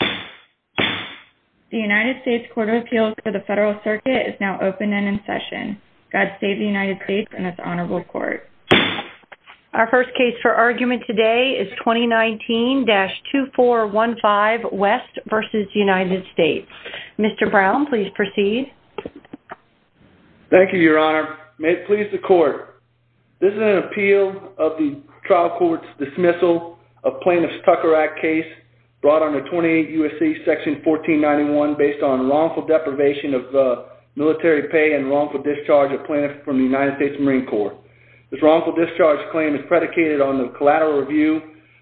The United States Court of Appeals for the Federal Circuit is now open and in session. God save the United States and its honorable court. Our first case for argument today is 2019-2415 West v. United States. Mr. Brown, please proceed. Thank you, Your Honor. May it please the court. This is an appeal of the trial proceeding U.S.C. section 1491 based on wrongful deprivation of military pay and wrongful discharge of plaintiffs from the United States Marine Corps. This wrongful discharge claim is predicated on the collateral review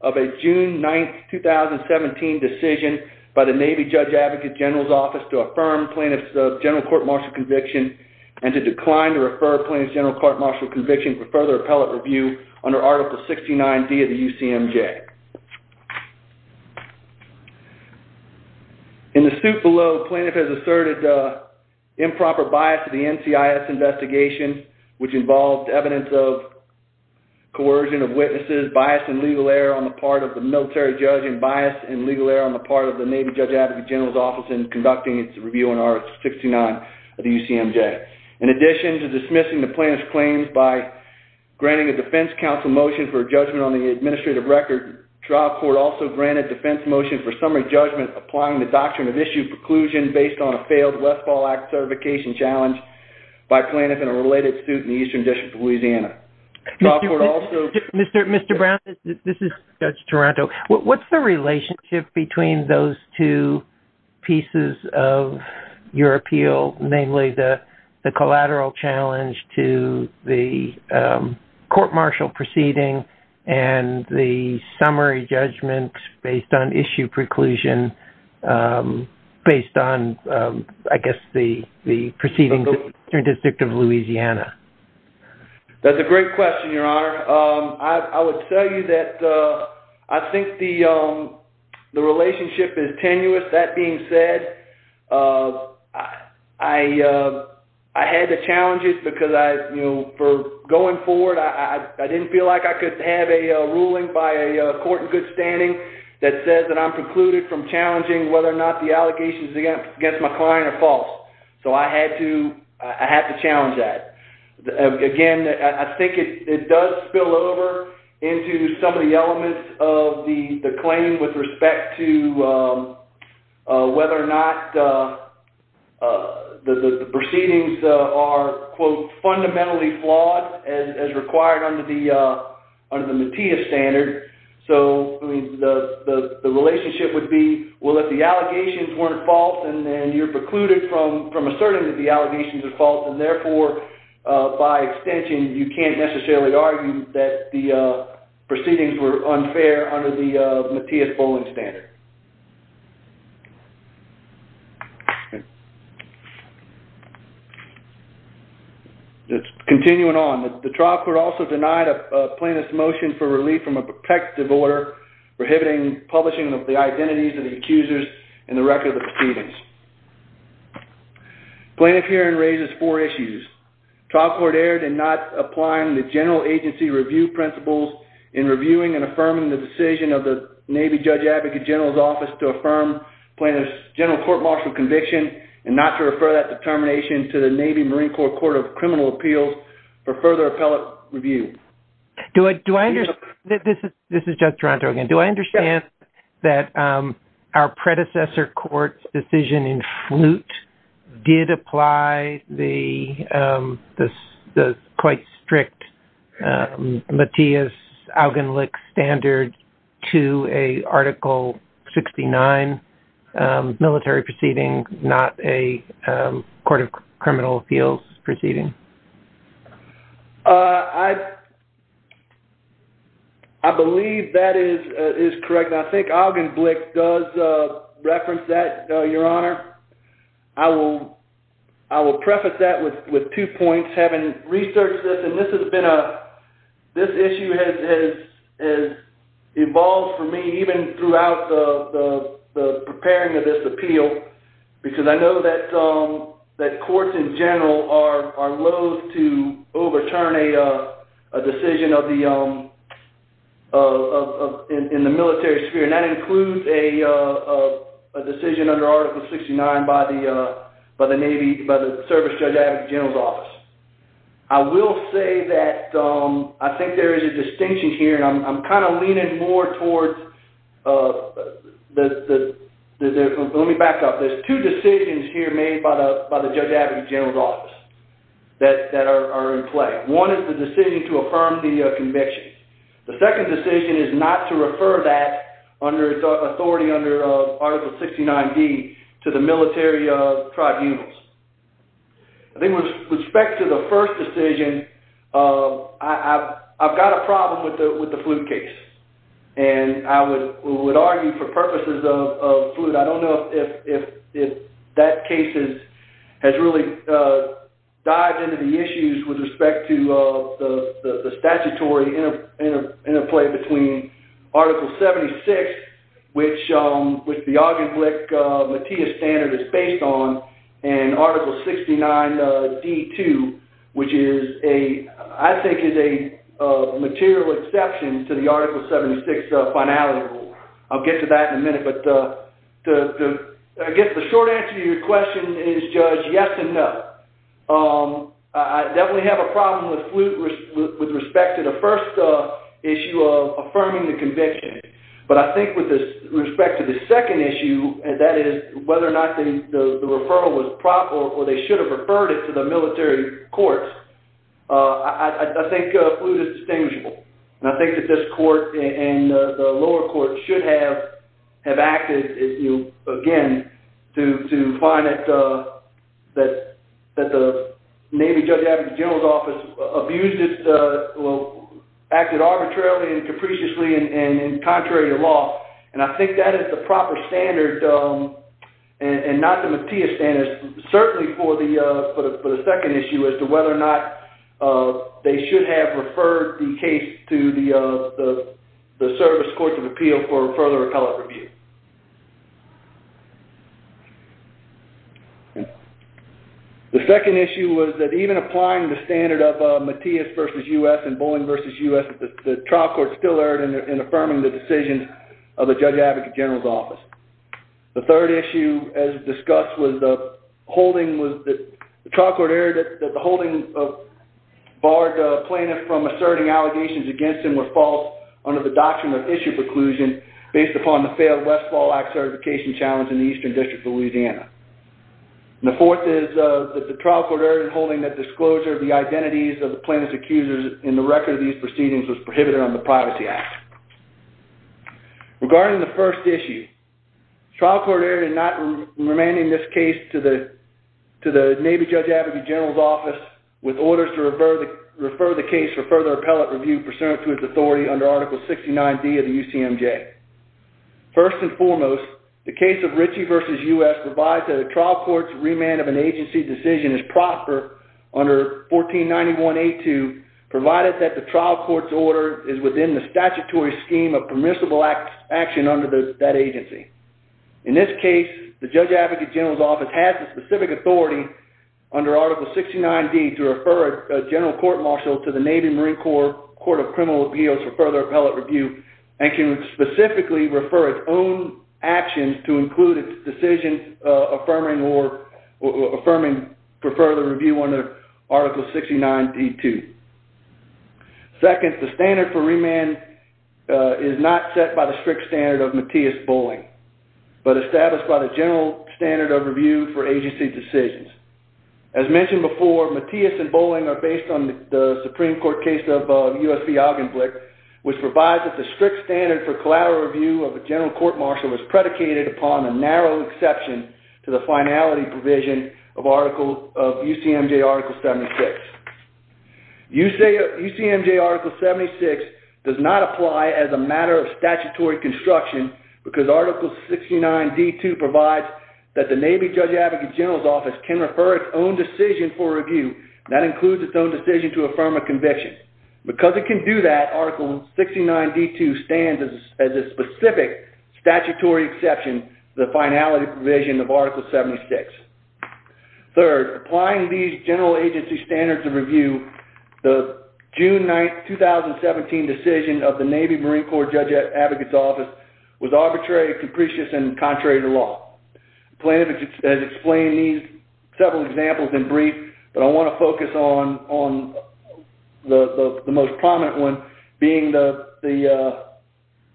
of a June 9th, 2017 decision by the Navy Judge Advocate General's Office to affirm plaintiff's general court martial conviction and to decline to refer plaintiff's general court martial conviction for further appellate review under Article 69D of the UCMJ. In the suit below, plaintiff has asserted improper bias to the NCIS investigation, which involved evidence of coercion of witnesses, bias and legal error on the part of the military judge, and bias and legal error on the part of the Navy Judge Advocate General's Office in conducting its review under Article 69 of the UCMJ. In addition to dismissing the plaintiff's claims by granting a administrative record, trial court also granted defense motion for summary judgment applying the doctrine of issue preclusion based on a failed Westfall Act certification challenge by plaintiff in a related suit in the Eastern District of Louisiana. Mr. Brown, this is Judge Toronto. What's the relationship between those two pieces of your appeal, namely the collateral challenge to the court martial proceeding and the summary judgment based on issue preclusion based on, I guess, the proceedings in the Eastern District of Louisiana? That's a great question, Your Honor. I would tell you that I think the relationship is tenuous. That being said, I had to challenge it because I, you know, for going forward, I didn't feel like I could have a ruling by a court in good standing that says that I'm precluded from challenging whether or not the allegations against my client are false. So I had to challenge that. Again, I think it does spill over into some of the elements of the claim with respect to whether or not the allegations are, quote, fundamentally flawed as required under the Matias standard. So the relationship would be, well, if the allegations weren't false and you're precluded from asserting that the allegations are false and therefore, by extension, you can't necessarily argue that the proceedings were unfair under the Matias bowling standard. Continuing on, the trial court also denied a plaintiff's motion for relief from a protective order prohibiting publishing of the identities of the accusers in the record of the proceedings. Plaintiff hearing raises four issues. Trial court erred in not applying the general agency review principles in reviewing and affirming the decision of the Navy Judge Advocate General's Office to affirm plaintiff's general court martial conviction and not to refer that determination to the Navy Marine Corps Court of Criminal Appeals for further appellate review. This is Judge Duranto again. Do I understand that our predecessor court's decision in flute did apply the quite strict Matias-Augenlich standard to a Article 69 military proceeding, not a court of criminal appeals proceeding? I believe that is correct. I think Augenblich does reference that, Your Honor. I will preface that with two points. Having researched this, and even throughout the preparing of this appeal, because I know that courts in general are loathe to overturn a decision in the military sphere, and that includes a decision under Article 69 by the Navy Service Judge Advocate General's Office. I will say that I think there is a distinction here, and I'm leaning more towards the... Let me back up. There's two decisions here made by the Judge Advocate General's Office that are in play. One is the decision to affirm the conviction. The second decision is not to refer that authority under Article 69D to the military tribunals. With respect to the first decision, I've got a problem with the flute case. I would argue for purposes of flute, I don't know if that case has really dived into the issues with respect to the statutory interplay between Article 76, which the Augenblich Matias standard is based on, and Article 69D-2, which I think is a material exception to the Article 76 finality rule. I'll get to that in a minute, but I guess the short answer to your question is, Judge, yes and no. I definitely have a issue of affirming the conviction, but I think with respect to the second issue, and that is whether or not the referral was proper, or they should have referred it to the military courts, I think flute is distinguishable. I think that this court and the lower court should have acted, again, to find that the Navy Judge Advocate General's Office abused its... Well, acted arbitrarily and capriciously and contrary to law. I think that is the proper standard, and not the Matias standard, certainly for the second issue as to whether or not they should have referred the case to the Service Courts of Appeal for further appellate review. The second issue was that even applying the standard of Matias versus U.S. and Bolling versus U.S., the trial court still erred in affirming the decision of the Judge Advocate General's Office. The third issue, as discussed, was that the trial court erred that the holding barred the plaintiff from asserting allegations against him were false under the doctrine of issue preclusion based upon the failed Westfall Act certification challenge in the Eastern District of Louisiana. The fourth is that the trial court erred in holding that disclosure of the identities of the plaintiff's accusers in the record of these proceedings was prohibited under the Privacy Act. Regarding the first issue, the trial court erred in not remanding this case to the Navy Judge Advocate General's Office with orders to refer the case for further appellate review pursuant to its authority under Article 69D of the UCMJ. First and foremost, the case of Ritchie versus U.S. provides that a trial court's remand of an agency's decision is prosper under 1491A2 provided that the trial court's order is within the statutory scheme of permissible action under that agency. In this case, the Judge Advocate General's Office has the specific authority under Article 69D to refer a general court marshal to the Navy Marine Corps Court of Criminal Appeals for further appellate review and can specifically refer its own actions to include its decision affirming for further review under Article 69D2. Second, the standard for remand is not set by the strict standard of Matias Bolling, but established by the general standard of review for agency decisions. As mentioned before, Matias and Bolling are based on the Supreme Court case of U.S. v. Augenblick, which provides that the strict standard for collateral review of a general court marshal was predicated upon a finality provision of U.C.M.J. Article 76. U.C.M.J. Article 76 does not apply as a matter of statutory construction because Article 69D2 provides that the Navy Judge Advocate General's Office can refer its own decision for review, and that includes its own decision to affirm a conviction. Because it can do that, Article 69D2 stands as a specific statutory exception to the finality provision of Article 76. Third, applying these general agency standards of review, the June 9, 2017 decision of the Navy Marine Corps Judge Advocate's Office was arbitrary, capricious, and contrary to law. The plaintiff has explained these several examples in brief, but I want to focus on the most prominent one, being the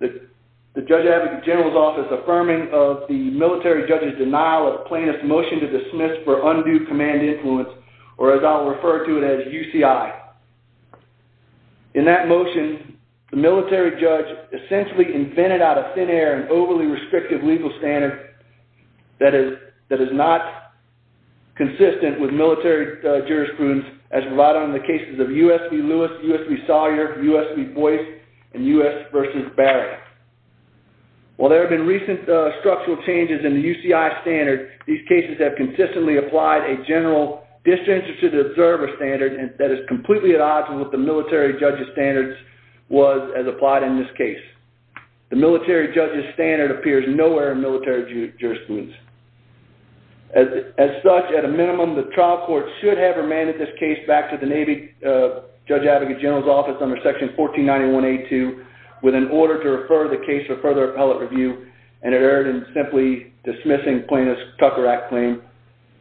Judge Advocate General's Office affirming of the military judge's denial of plaintiff's motion to dismiss for undue command influence, or as I'll refer to it as UCI. In that motion, the military judge essentially invented out of thin air an overly restrictive legal standard that is not consistent with military jurisprudence as relied on in the cases of U.S. v. Lewis, U.S. v. Sawyer, U.S. v. Boyce, and U.S. v. Barrett. While there have been recent structural changes in the UCI standard, these cases have consistently applied a general disinterested observer standard that is completely at odds with the military judge's standards was as applied in this case. The military judge's standard appears nowhere in military jurisprudence. As such, at this time, I have remanded this case back to the Navy Judge Advocate General's Office under section 1491A2 with an order to refer the case for further appellate review, and it erred in simply dismissing plaintiff's Tucker Act claim.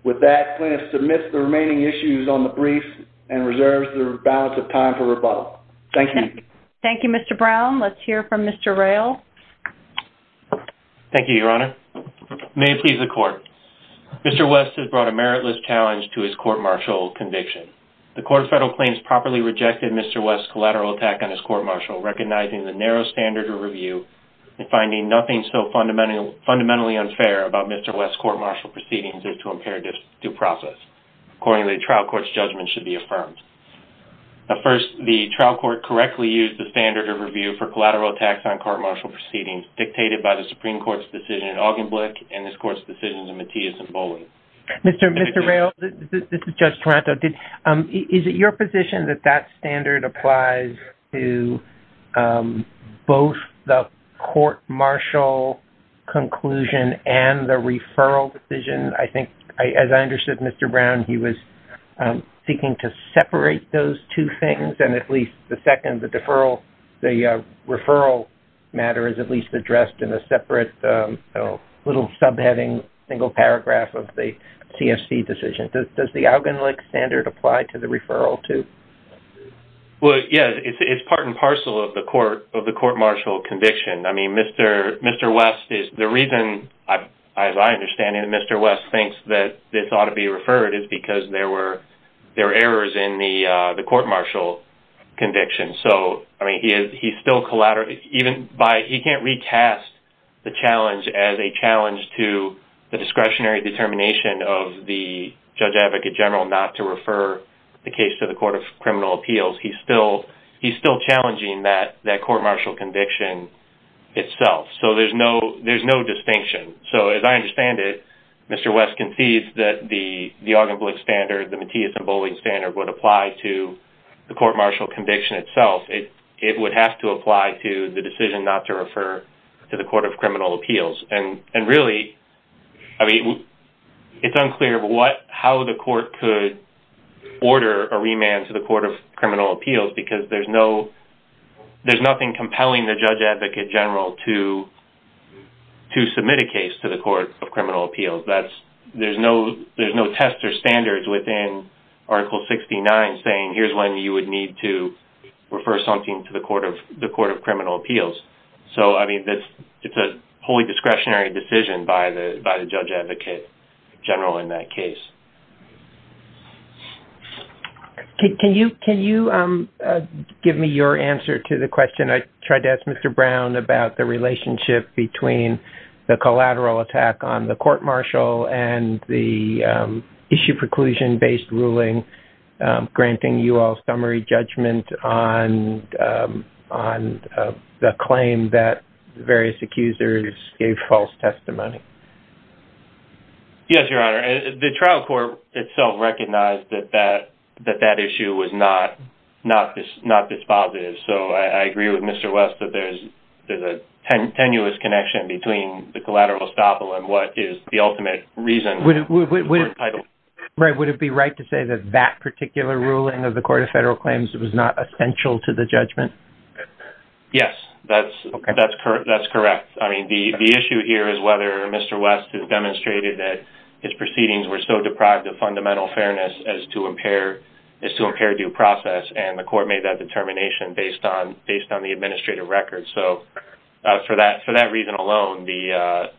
With that, plaintiff submits the remaining issues on the brief and reserves the balance of time for rebuttal. Thank you. Thank you, Mr. Brown. Let's hear from Mr. Rayl. Thank you, Your Honor. May it please the court. Mr. West has brought a The court's federal claim has properly rejected Mr. West's collateral attack on his court-martial, recognizing the narrow standard of review and finding nothing so fundamentally unfair about Mr. West's court-martial proceedings as to impair due process. Accordingly, the trial court's judgment should be affirmed. First, the trial court correctly used the standard of review for collateral attacks on court-martial proceedings dictated by the Supreme Court's decision in Augenblick and this court's decision in Matias and Bowling. Mr. Rayl, this is Judge Taranto. Is it your position that that standard applies to both the court-martial conclusion and the referral decision? I think, as I understood, Mr. Brown, he was seeking to separate those two things and at least the second, the deferral, the referral matter is at least addressed in a little subheading, single paragraph of the CFC decision. Does the Augenblick standard apply to the referral, too? Well, yes. It's part and parcel of the court-martial conviction. I mean, Mr. West, the reason, as I understand it, Mr. West thinks that this ought to be referred is because there were errors in the court-martial conviction. So, I mean, he's still collateral, even by, he can't recast the challenge as a challenge to the discretionary determination of the Judge Advocate General not to refer the case to the Court of Criminal Appeals. He's still challenging that court-martial conviction itself. So, there's no distinction. So, as I understand it, Mr. West concedes that the Augenblick standard, the Matias and Bowling standard would apply to the court-martial conviction itself. It would have to apply to the decision not to refer to the Court of Criminal Appeals. And really, I mean, it's unclear how the court could order a remand to the Court of Criminal Appeals because there's no, there's nothing compelling the Judge Advocate General to submit a case to the Court of Criminal Appeals. There's no test or standards within Article 69 saying here's when you would need to refer something to the Court of Criminal Appeals. So, I mean, it's a wholly discretionary decision by the Judge Advocate General in that case. Can you give me your answer to the question? I tried to ask Mr. Brown about the relationship between the collateral attack on the court-martial and the UL summary judgment on the claim that various accusers gave false testimony. Yes, Your Honor. The trial court itself recognized that that issue was not this positive. So, I agree with Mr. West that there's a tenuous connection between the collateral estoppel and what is the ultimate reason for entitlement. Would it be right to say that that particular ruling of the Court of Federal Claims was not essential to the judgment? Yes, that's correct. I mean, the issue here is whether Mr. West has demonstrated that his proceedings were so deprived of fundamental fairness as to impair due process and the court made that determination based on the administrative record. So, for that reason alone, the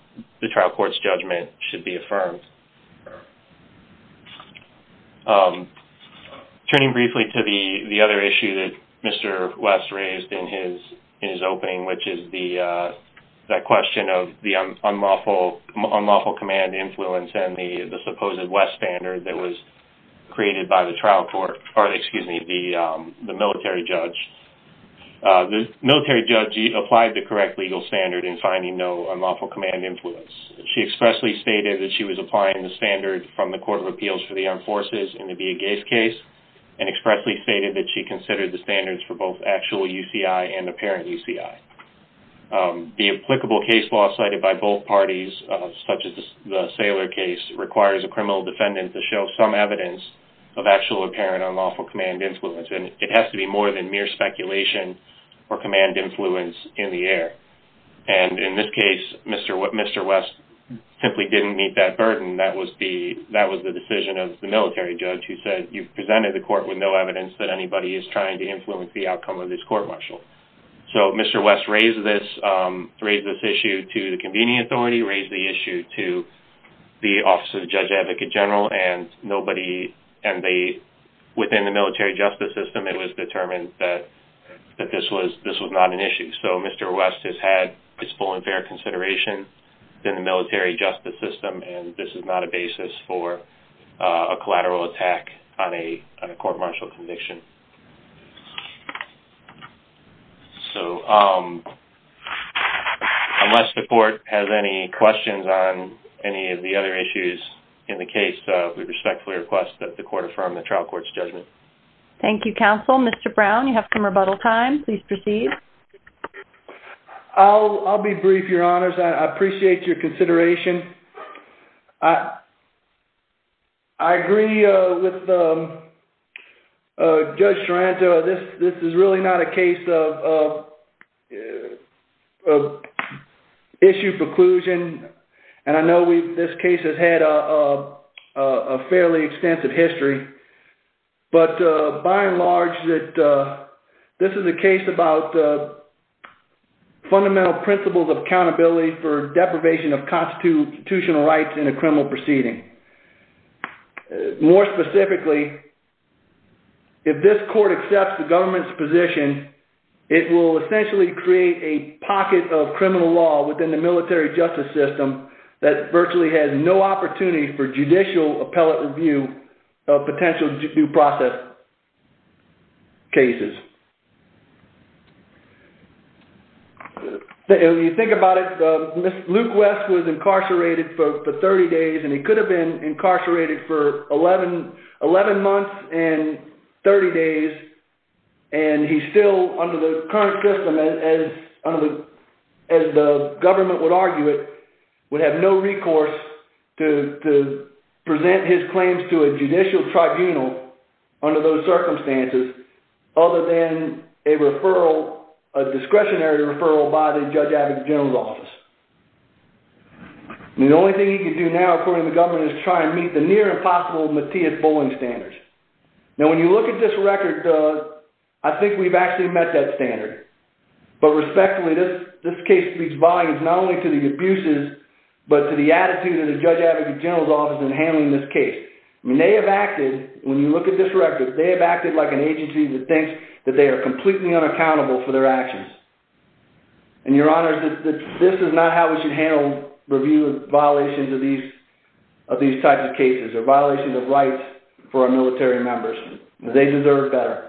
Turning briefly to the other issue that Mr. West raised in his opening, which is that question of the unlawful command influence and the supposed West standard that was created by the trial court, or excuse me, the military judge. The military judge applied the correct legal standard in finding no unlawful command influence. She expressly stated that she was applying the standard from the Court of Appeals for the Armed Forces in the Gage case and expressly stated that she considered the standards for both actual UCI and apparent UCI. The applicable case law cited by both parties, such as the Saylor case, requires a criminal defendant to show some evidence of actual apparent unlawful command influence and it has to be more than mere speculation or command influence in the air. And in this case, Mr. West simply didn't meet that burden. That was the decision of the court. You presented the court with no evidence that anybody is trying to influence the outcome of this court martial. So, Mr. West raised this issue to the convening authority, raised the issue to the Office of the Judge Advocate General, and within the military justice system, it was determined that this was not an issue. So, Mr. West has had his full and fair consideration in the military justice system and this is not a basis for a collateral attack on a court martial conviction. So, unless the court has any questions on any of the other issues in the case, we respectfully request that the court affirm the trial court's judgment. Thank you, counsel. Mr. Brown, you have some rebuttal time. Please proceed. I'll be brief, Your Honors. I appreciate your consideration. I agree with Judge Sorrento. This is really not a case of issue preclusion, and I know this case has had a fairly extensive history, but by and large, this is a case about fundamental principles of constitutional rights in a criminal proceeding. More specifically, if this court accepts the government's position, it will essentially create a pocket of criminal law within the military justice system that virtually has no opportunity for judicial appellate review of potential due process cases. When you think about it, Luke West was incarcerated for 30 days and he could have been incarcerated for 11 months and 30 days and he's still under the current system, as the government would argue it, would have no recourse to present his claims to a judicial tribunal under those circumstances other than a referral, a referral to a judicial tribunal. The only thing he can do now, according to the government, is try and meet the near impossible Matias Bowling standards. When you look at this record, I think we've actually met that standard, but respectfully, this case speaks volumes not only to the abuses, but to the attitude of the Judge Advocate General's office in handling this case. They have acted, when you look at this record, they have acted like an agency that thinks that they are completely unaccountable for their actions. Your Honors, this is not how we should handle review violations of these types of cases or violations of rights for our military members. They deserve better.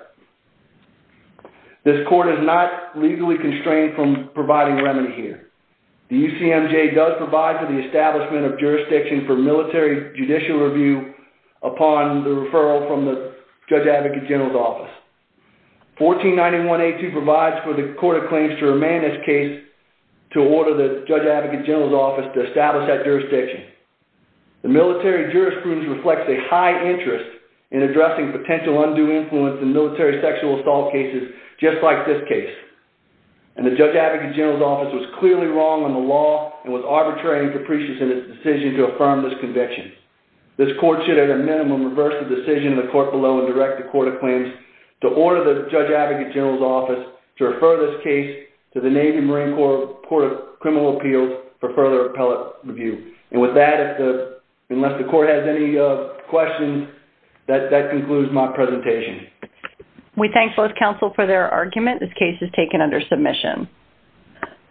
This court is not legally constrained from providing remedy here. The UCMJ does provide for the establishment of jurisdiction for military judicial review upon the referral from the Judge Advocate General's office. 1491A2 provides for the court of claims to remain this case to order the Judge Advocate General's office to establish that jurisdiction. The military jurisprudence reflects a high interest in addressing potential undue influence in military sexual assault cases just like this case. And the Judge Advocate General's office was clearly wrong on the law and was arbitrary and capricious in its decision to affirm this conviction. This court should at a minimum reverse the decision of the court below and direct the court of claims to order the Judge Advocate General's office to refer this case to the Navy Marine Corps Court of Criminal Appeals for further appellate review. And with that, unless the court has any questions, that concludes my presentation. We thank both counsel for their argument. This case is taken under submission.